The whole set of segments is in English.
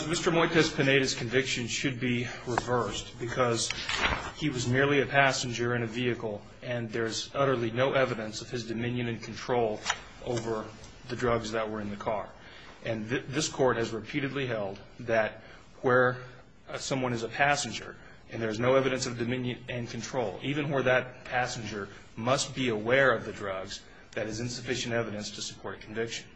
Mr. Moytez-Pineda's conviction should be reversed because he was merely a passenger in a vehicle and there is utterly no evidence of his dominion and control over the drugs that were in the car. And this court has repeatedly held that where someone is a passenger and there is no evidence of dominion and control, even where that passenger must be aware of the drugs, that is insufficient evidence to support a conviction.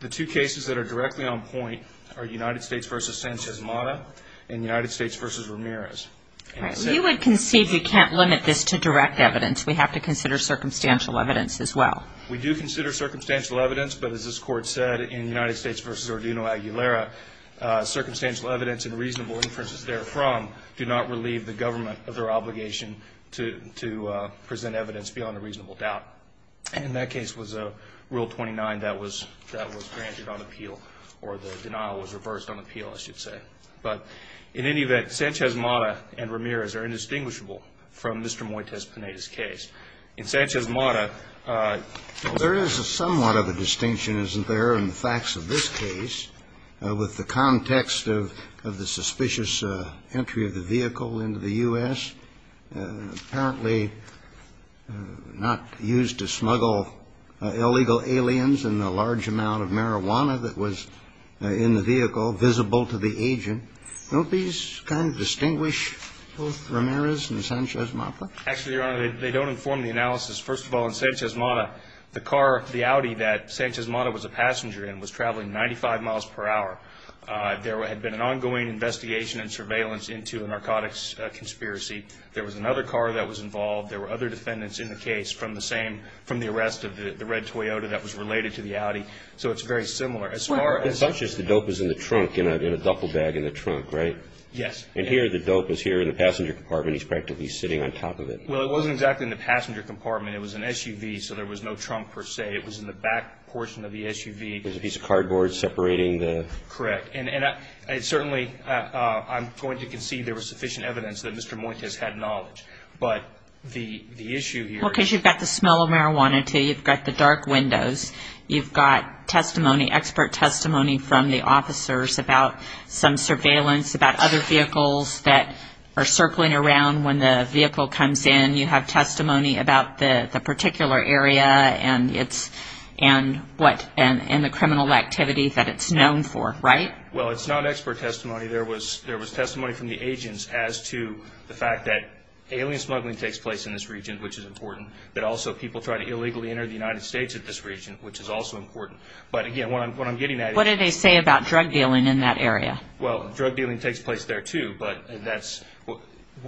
The two cases that are directly on point are United States v. Sanchez-Mata and United States v. Ramirez. And you would concede you can't limit this to direct evidence. We have to consider circumstantial evidence as well. We do consider circumstantial evidence, but as this court said in United States v. Ordino-Aguilera, circumstantial evidence and reasonable inferences therefrom do not relieve the government of their obligation to present evidence beyond a reasonable doubt. And that case was a Rule 29 that was granted on appeal, or the denial was reversed on appeal, I should say. But in any event, Sanchez-Mata and Ramirez are indistinguishable from Mr. Moytez-Pineda's case. In Sanchez-Mata, there is somewhat of a distinction, isn't there, in the facts of this case, with the context of the suspicious entry of the vehicle into the U.S., apparently not used to smuggle illegal aliens, and the large amount of marijuana that was in the vehicle visible to the agent. Don't these kind of distinguish both Ramirez and Sanchez-Mata? Actually, Your Honor, they don't inform the analysis. First of all, in Sanchez-Mata, the car, the Audi that Sanchez-Mata was a passenger in was traveling 95 miles per hour. There had been an ongoing investigation and surveillance into a narcotics conspiracy. There was another car that was involved. There were other defendants in the case from the same, from the arrest of the red Toyota that was related to the Audi. So it's very similar. Well, in Sanchez, the dope was in the trunk, in a duffel bag in the trunk, right? Yes. And here, the dope was here in the passenger compartment, and he's practically sitting on top of it. Well, it wasn't exactly in the passenger compartment. It was an SUV, so there was no trunk, per se. It was in the back portion of the SUV. There's a piece of cardboard separating the... Correct. And certainly, I'm going to concede there was sufficient evidence that Mr. Muentes had knowledge. But the issue here is... Well, because you've got the smell of marijuana, too. You've got the dark windows. You've got testimony, expert testimony from the officers about some surveillance about other vehicles that are circling around when the vehicle comes in. And you have testimony about the particular area and the criminal activity that it's known for, right? Well, it's not expert testimony. There was testimony from the agents as to the fact that alien smuggling takes place in this region, which is important, that also people try to illegally enter the United States in this region, which is also important. But again, what I'm getting at is... What do they say about drug dealing in that area? Well, drug dealing takes place there, too. But that's...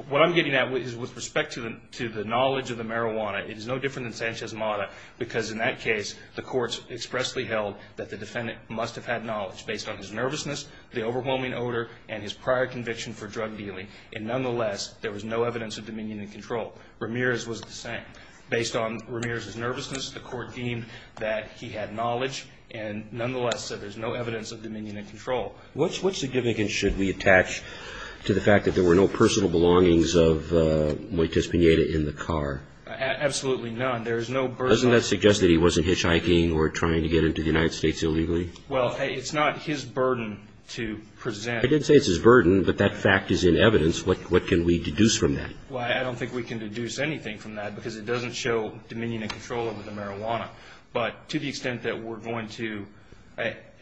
What I'm getting at is with respect to the knowledge of the marijuana, it is no different than Sanchez-Mata, because in that case, the courts expressly held that the defendant must have had knowledge based on his nervousness, the overwhelming odor, and his prior conviction for drug dealing. And nonetheless, there was no evidence of dominion and control. Ramirez was the same. Based on Ramirez's nervousness, the court deemed that he had knowledge, and nonetheless said there's no evidence of dominion and control. What significance should we attach to the fact that there were no personal belongings of Moitis Pineda in the car? Absolutely none. There is no burden... Doesn't that suggest that he wasn't hitchhiking or trying to get into the United States illegally? Well, it's not his burden to present... I didn't say it's his burden, but that fact is in evidence. What can we deduce from that? Well, I don't think we can deduce anything from that, because it doesn't show dominion and control over the marijuana. But to the extent that we're going to...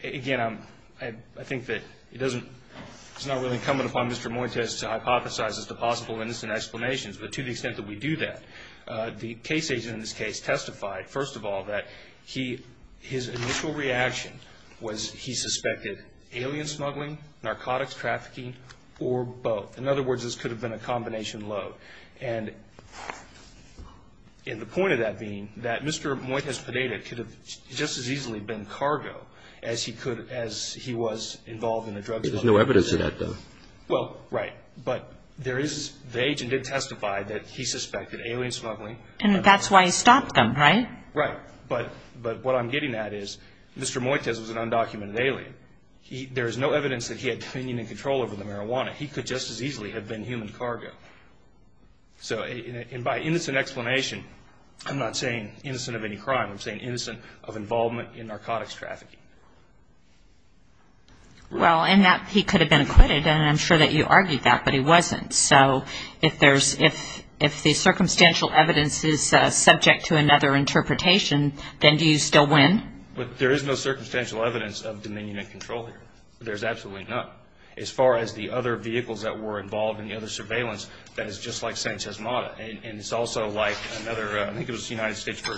Again, I think that it's not really incumbent upon Mr. Moitis to hypothesize as to possible innocent explanations, but to the extent that we do that, the case agent in this case testified, first of all, that his initial reaction was he suspected alien smuggling, narcotics trafficking, or both. In other words, this could have been a combination load. And the point of that being that Mr. Moitis Pineda could have just as easily been cargo as he was involved in the drug smuggling. There's no evidence of that, though. Well, right. But the agent did testify that he suspected alien smuggling. And that's why he stopped them, right? Right. But what I'm getting at is Mr. Moitis was an undocumented alien. There is no evidence that he had dominion and control over the marijuana. He could just as easily have been human cargo. So by innocent explanation, I'm not saying innocent of any crime. I'm saying innocent of involvement in narcotics trafficking. Well, and that he could have been acquitted, and I'm sure that you argued that, but he wasn't. So if the circumstantial evidence is subject to another interpretation, then do you still win? There is no circumstantial evidence of dominion and control here. There's absolutely none. As far as the other vehicles that were involved in the other surveillance, that is just like Sanchez Mata. And it's also like another, I think it was United States v.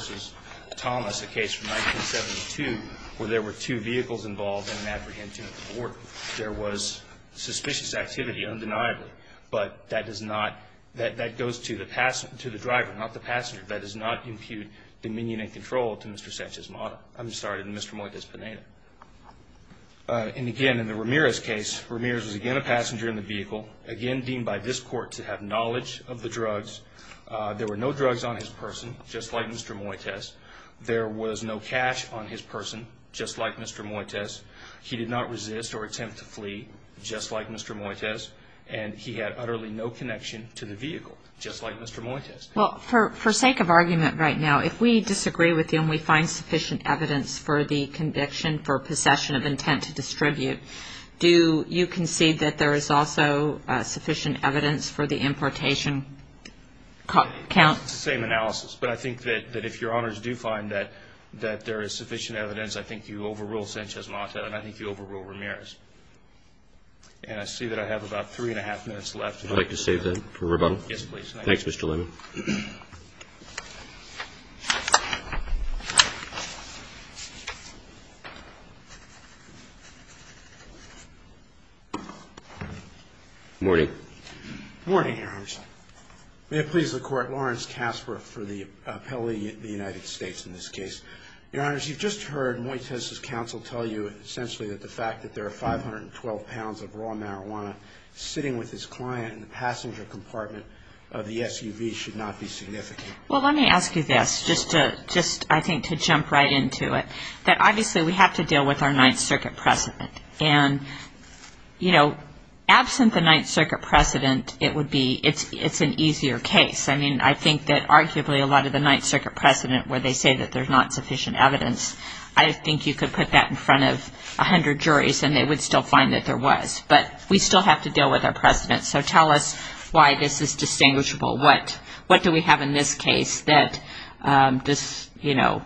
Thomas, a case from 1972 where there were two vehicles involved in an apprehension at the border. There was suspicious activity, undeniably. But that does not, that goes to the driver, not the passenger. That does not impute dominion and control to Mr. Sanchez Mata. I'm sorry to Mr. Moitis Pineda. And again, in the Ramirez case, Ramirez was again a passenger in the vehicle, again deemed by this court to have knowledge of the drugs. There were no drugs on his person, just like Mr. Moitis. There was no cash on his person, just like Mr. Moitis. He did not resist or attempt to flee, just like Mr. Moitis. And he had utterly no connection to the vehicle, just like Mr. Moitis. Well, for sake of argument right now, if we disagree with you and we find sufficient evidence for the conviction for possession of intent to distribute, do you concede that there is also sufficient evidence for the importation count? It's the same analysis. But I think that if your honors do find that there is sufficient evidence, I think you overrule Sanchez Mata and I think you overrule Ramirez. And I see that I have about three and a half minutes left. Would you like to save that for rebuttal? Yes, please. Thanks, Mr. Lehman. Good morning. Good morning, your honors. May it please the court, Lawrence Kasper for the appellee of the United States in this case. Your honors, you've just heard Moitis' counsel tell you essentially that the fact that there are 512 pounds of raw marijuana sitting with his client in the passenger compartment of the SUV should not be significant. Well, let me ask you this, just I think to jump right into it. That obviously we have to deal with our Ninth Circuit precedent. And, you know, absent the Ninth Circuit precedent, it would be, it's an easier case. I mean, I think that arguably a lot of the Ninth Circuit precedent where they say that there's not sufficient evidence, I think you could put that in front of 100 juries and they would still find that there was. But we still have to deal with our precedent. So tell us why this is distinguishable. What do we have in this case that, you know,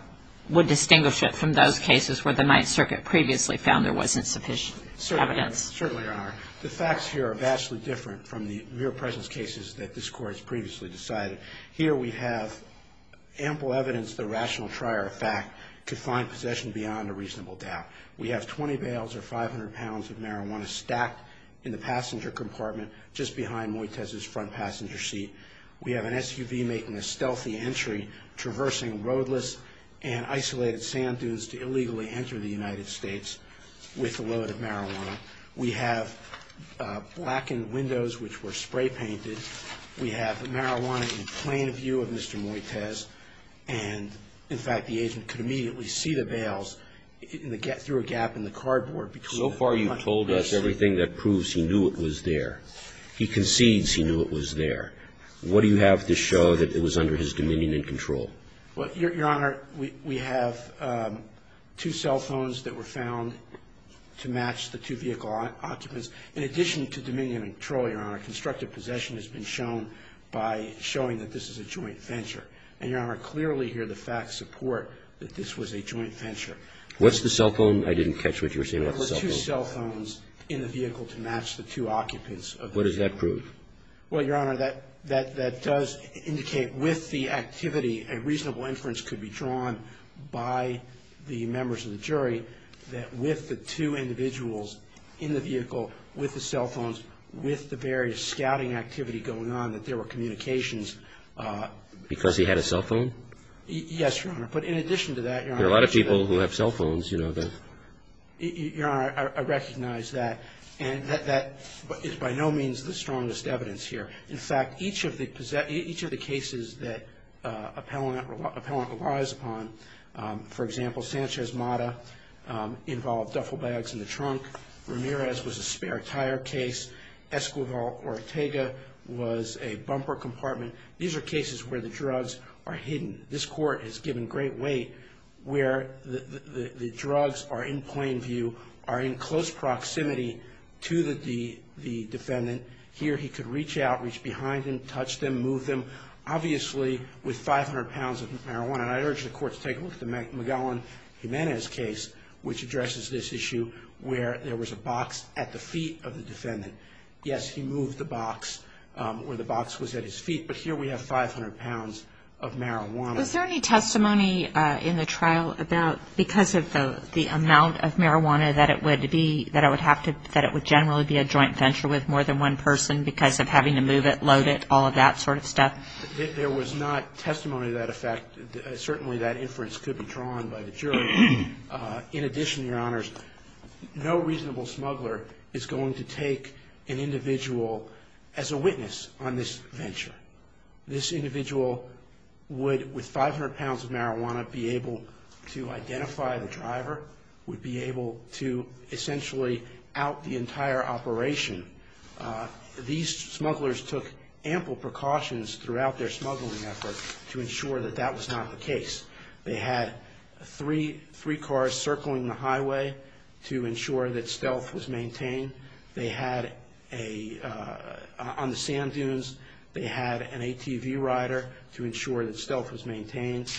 would distinguish it from those cases where the Ninth Circuit previously found there wasn't sufficient evidence? Certainly, your honor. The facts here are vastly different from the real presence cases that this court has previously decided. Here we have ample evidence of the rational trier of fact to find possession beyond a reasonable doubt. We have 20 bales or 500 pounds of marijuana stacked in the passenger compartment just behind Moites' front passenger seat. We have an SUV making a stealthy entry, traversing roadless and isolated sand dunes to illegally enter the United States with a load of marijuana. We have blackened windows which were spray painted. We have marijuana in plain view of Mr. Moites. And, in fact, the agent could immediately see the bales through a gap in the cardboard. So far you've told us everything that proves he knew it was there. He concedes he knew it was there. What do you have to show that it was under his dominion and control? Well, your honor, we have two cell phones that were found to match the two vehicle occupants. In addition to dominion and control, your honor, constructive possession has been shown by showing that this is a joint venture. And, your honor, clearly here the facts support that this was a joint venture. What's the cell phone? I didn't catch what you were saying about the cell phone. There were two cell phones in the vehicle to match the two occupants. What does that prove? Well, your honor, that does indicate with the activity a reasonable inference could be drawn by the members of the jury that with the two individuals in the vehicle, with the cell phones, with the various scouting activity going on, that there were communications. Because he had a cell phone? Yes, your honor. But, in addition to that, your honor. A lot of people who have cell phones, you know. Your honor, I recognize that. And that is by no means the strongest evidence here. In fact, each of the cases that appellant relies upon, for example, Sanchez-Mata involved duffel bags in the trunk. Ramirez was a spare tire case. Esquivel-Ortega was a bumper compartment. These are cases where the drugs are hidden. This court has given great weight where the drugs are in plain view, are in close proximity to the defendant. Here, he could reach out, reach behind him, touch them, move them, obviously, with 500 pounds of marijuana. I urge the court to take a look at the Magallan-Jimenez case, which addresses this issue, where there was a box at the feet of the defendant. Yes, he moved the box, or the box was at his feet. But here, we have 500 pounds of marijuana. Was there any testimony in the trial about, because of the amount of marijuana that it would be, that it would generally be a joint venture with more than one person because of having to move it, load it, all of that sort of stuff? There was not testimony to that effect. Certainly, that inference could be drawn by the jury. In addition, your honors, no reasonable smuggler is going to take an individual as a witness on this venture. This individual would, with 500 pounds of marijuana, be able to identify the driver, would be able to essentially out the entire operation. These smugglers took ample precautions throughout their smuggling effort to ensure that that was not the case. They had three cars circling the highway to ensure that stealth was maintained. They had a, on the sand dunes, they had an ATV rider to ensure that stealth was maintained.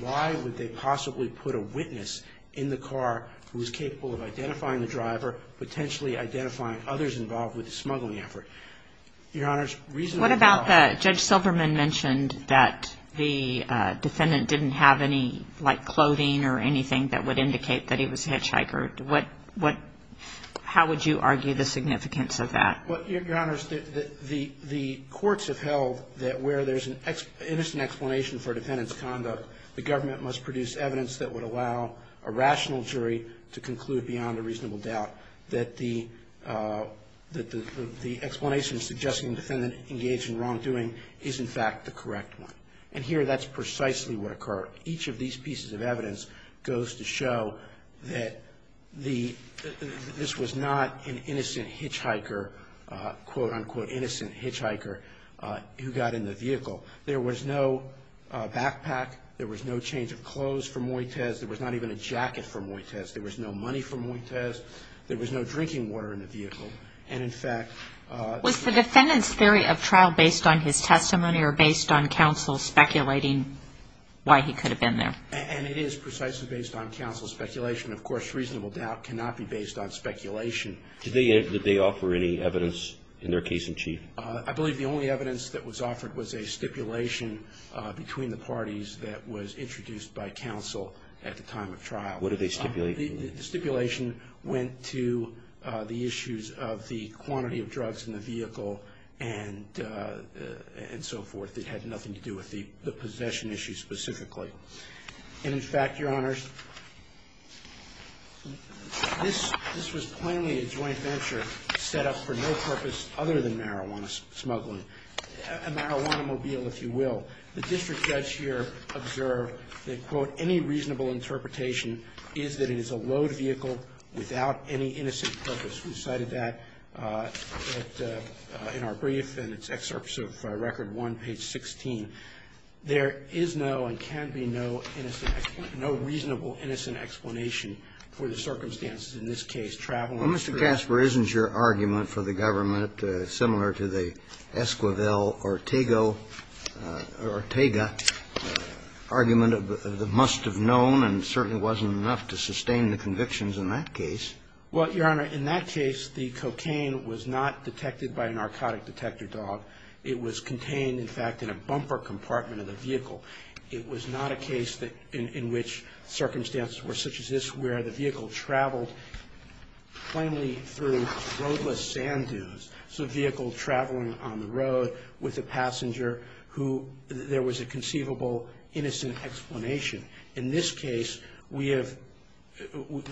Why would they possibly put a witness in the car who was capable of identifying the driver, potentially identifying others involved with the smuggling effort? Your honors, reasonable- What about the, Judge Silverman mentioned that the defendant didn't have any, like, clothing or anything that would indicate that he was a hitchhiker. What, how would you argue the significance of that? Well, your honors, the courts have held that where there's an innocent explanation for a defendant's conduct, the government must produce evidence that would allow a rational jury to conclude beyond a reasonable doubt that the explanation suggesting the defendant engaged in wrongdoing is, in fact, the correct one. And here, that's precisely what occurred. Each of these pieces of evidence goes to show that the, this was not an innocent hitchhiker, quote, unquote, innocent hitchhiker who got in the vehicle. There was no backpack. There was no change of clothes for Moites. There was not even a jacket for Moites. There was no money for Moites. There was no drinking water in the vehicle. And, in fact- Was the defendant's theory of trial based on his testimony or based on counsel speculating why he could have been there? And it is precisely based on counsel's speculation. Of course, reasonable doubt cannot be based on speculation. Did they, did they offer any evidence in their case in chief? I believe the only evidence that was offered was a stipulation between the parties that was introduced by counsel at the time of trial. What did they stipulate? The stipulation went to the issues of the quantity of drugs in the vehicle and, and so forth. It had nothing to do with the, the possession issue specifically. And, in fact, your honors, this, this was plainly a joint venture set up for no purpose other than marijuana smuggling, a marijuana mobile, if you will. The district judge here observed that, quote, any reasonable interpretation is that it is a load vehicle without any innocent purpose. We cited that at, in our brief and it's excerpts of record one, page 16. There is no and can be no innocent, no reasonable innocent explanation for the circumstances in this case traveling- Well, Mr. Casper, isn't your argument for the government similar to the Esquivel Ortega argument of the must have known and certainly wasn't enough to sustain the convictions in that case? Well, your honor, in that case, the cocaine was not detected by a narcotic detector dog. It was contained, in fact, in a bumper compartment of the vehicle. It was not a case that, in, in which circumstances were such as this where the vehicle traveled plainly through roadless sand dunes. It's a vehicle traveling on the road with a passenger who, there was a conceivable innocent explanation. In this case, we have,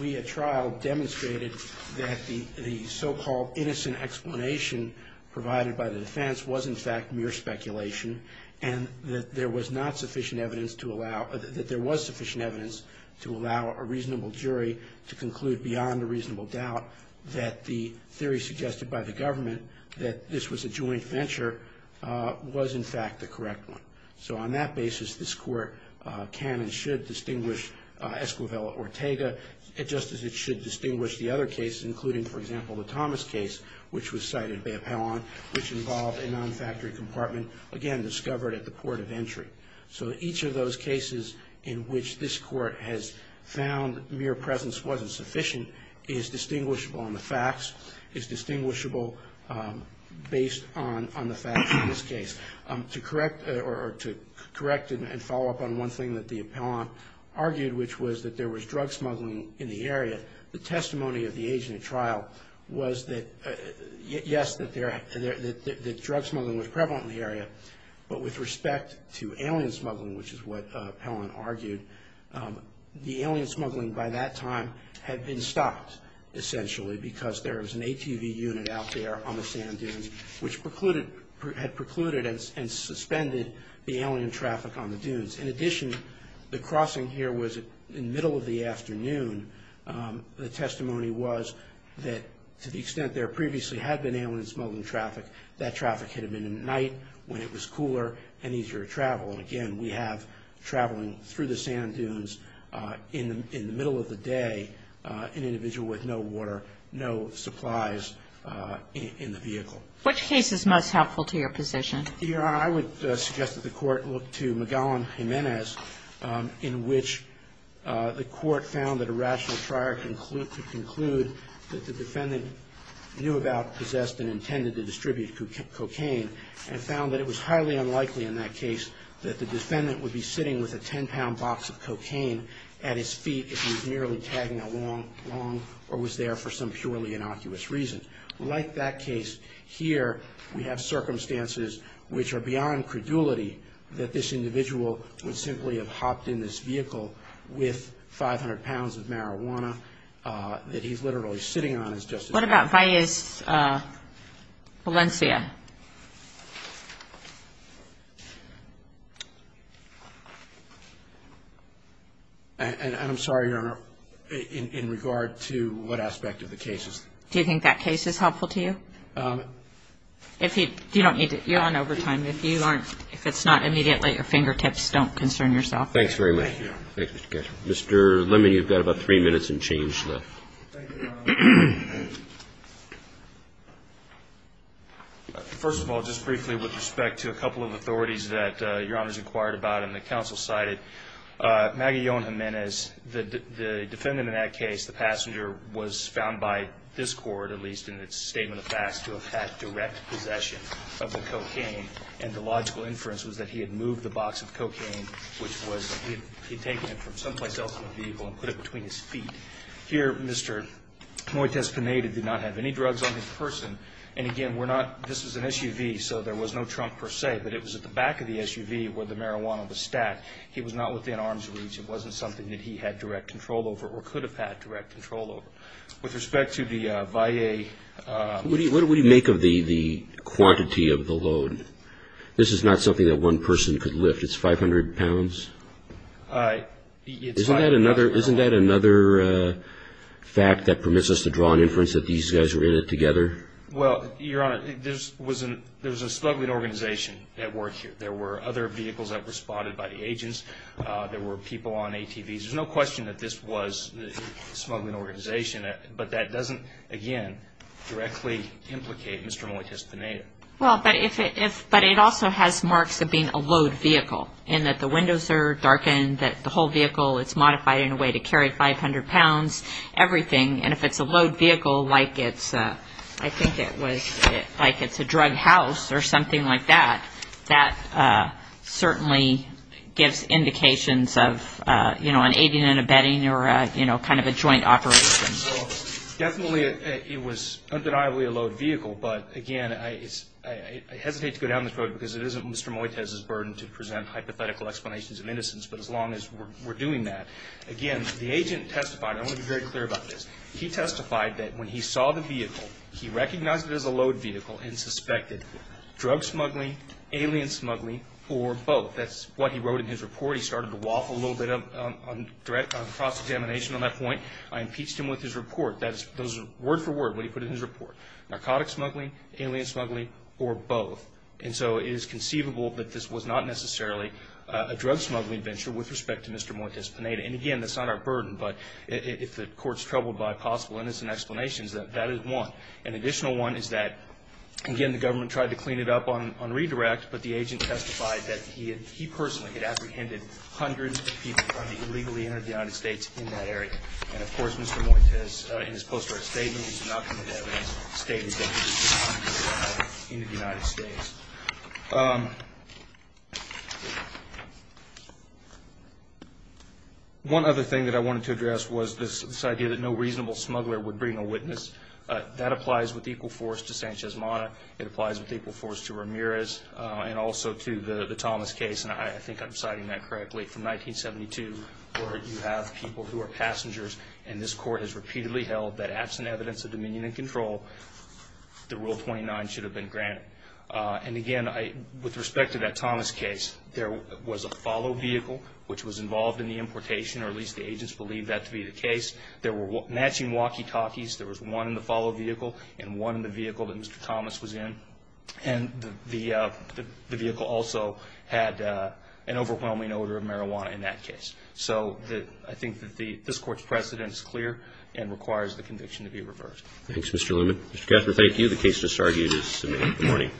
we at trial demonstrated that the, the so-called innocent explanation provided by the defense was, in fact, mere speculation and that there was not sufficient evidence to allow, that there was sufficient evidence to allow a reasonable jury to conclude beyond a reasonable doubt that the theory suggested by the government that this was a joint venture was, in fact, the correct one. So on that basis, this court can and should distinguish Esquivel Ortega, just as it should distinguish the other cases, including, for example, the Thomas case, which was cited, which involved a non-factory compartment, again, discovered at the port of entry. So each of those cases in which this court has found mere presence wasn't sufficient is distinguishable on the facts, is distinguishable based on, on the facts in this case. To correct, or to correct and follow up on one thing that the appellant argued, which was that there was drug smuggling in the area, the testimony of the agent at trial was that, yes, that there, that drug smuggling was prevalent in the area, but with respect to alien smuggling, which is what appellant argued, the alien smuggling by that time had been stopped, essentially, because there had precluded and suspended the alien traffic on the dunes. In addition, the crossing here was in the middle of the afternoon. The testimony was that to the extent there previously had been alien smuggling traffic, that traffic had been at night when it was cooler and easier to travel. And again, we have traveling through the sand dunes in the, in the middle of the day, an individual with no water, no supplies in the vehicle. Which case is most helpful to your position? Your Honor, I would suggest that the Court look to McGowan-Jimenez, in which the Court found that a rational trier could conclude that the defendant knew about, possessed, and intended to distribute cocaine, and found that it was highly unlikely in that case that the defendant would be sitting with a 10-pound box of cocaine at his feet if he was merely tagging along, or was there for some purely innocuous reason. Like that case here, we have circumstances which are beyond credulity, that this individual would simply have hopped in this vehicle with 500 pounds of marijuana that he's literally sitting on. What about Valles Valencia? And I'm sorry, Your Honor, in regard to what aspect of the cases? Do you think that case is helpful to you? If you, you don't need to, you're on overtime. If you aren't, if it's not immediately at your fingertips, don't concern yourself. Thanks very much. Mr. Lemon, you've got about three minutes and change left. First of all, just briefly with respect to a couple of authorities that Your Honor's inquired about and the counsel cited, Maguillon Jimenez, the defendant in that case, the passenger, was found by discord, at least in its statement of facts, to have had direct possession of the cocaine, and the logical inference was that he had moved the box of cocaine, which was he had taken it from someplace else in the vehicle and put it between his feet. Here, Mr. Moites Pineda did not have any drugs on his person, and again, we're not, this is an SUV, so there was no trunk per se, but it was at the back of the SUV where the marijuana was stacked. He was not within arm's reach. It wasn't something that he had direct control over or could have had direct control over. With respect to the VIA... What do we make of the quantity of the load? This is not something that one person could lift. It's 500 pounds? Isn't that another fact that permits us to draw an inference that these guys were in it together? Well, Your Honor, there's a struggling organization at work here. There were other vehicles that were spotted by the agents. There were people on ATVs. There's no question that this was a smuggling organization, but that doesn't, again, directly implicate Mr. Moites Pineda. Well, but it also has marks of being a load vehicle, in that the windows are darkened, that the whole vehicle is modified in a way to carry 500 pounds, everything, and if it's a load vehicle, like it's, I think it was, like it's a certainly gives indications of, you know, an aiding and abetting or, you know, kind of a joint operation. So, definitely, it was undeniably a load vehicle, but again, I hesitate to go down this road because it isn't Mr. Moites' burden to present hypothetical explanations of innocence, but as long as we're doing that, again, the agent testified, I want to be very clear about this, he testified that when he saw the vehicle, he recognized it as a load vehicle and suspected drug smuggling, alien smuggling, or both. That's what he wrote in his report. He started to waffle a little bit on cross-examination on that point. I impeached him with his report. Those are word for word, what he put in his report. Narcotic smuggling, alien smuggling, or both. And so, it is conceivable that this was not necessarily a drug smuggling venture with respect to Mr. Moites Pineda. And again, that's not our burden, but if the court's troubled by possible innocent explanations, that is one. An additional one is that, again, the government tried to clean it up on pre-direct, but the agent testified that he personally had apprehended hundreds of people who had illegally entered the United States in that area. And of course, Mr. Moites, in his post-court statement, he did not come into evidence stating that he was a drug smuggler in the United States. One other thing that I wanted to address was this idea that no reasonable smuggler would bring a witness. That applies with equal force to Sanchez Mata. It applies with equal force to Ramirez and also to the Thomas case. And I think I'm citing that correctly. From 1972, where you have people who are passengers, and this court has repeatedly held that absent evidence of dominion and control, the Rule 29 should have been granted. And again, with respect to that Thomas case, there was a follow vehicle, which was involved in the importation, or at least the agents believed that to be the case. There were matching walkie-talkies. There was one in the follow vehicle and one in the vehicle that Mr. Thomas was in, and the vehicle also had an overwhelming odor of marijuana in that case. So I think that this court's precedent is clear and requires the conviction to be reversed. Thanks, Mr. Luman. Mr. Kaffner, thank you. The case just argued is submitted. Good morning.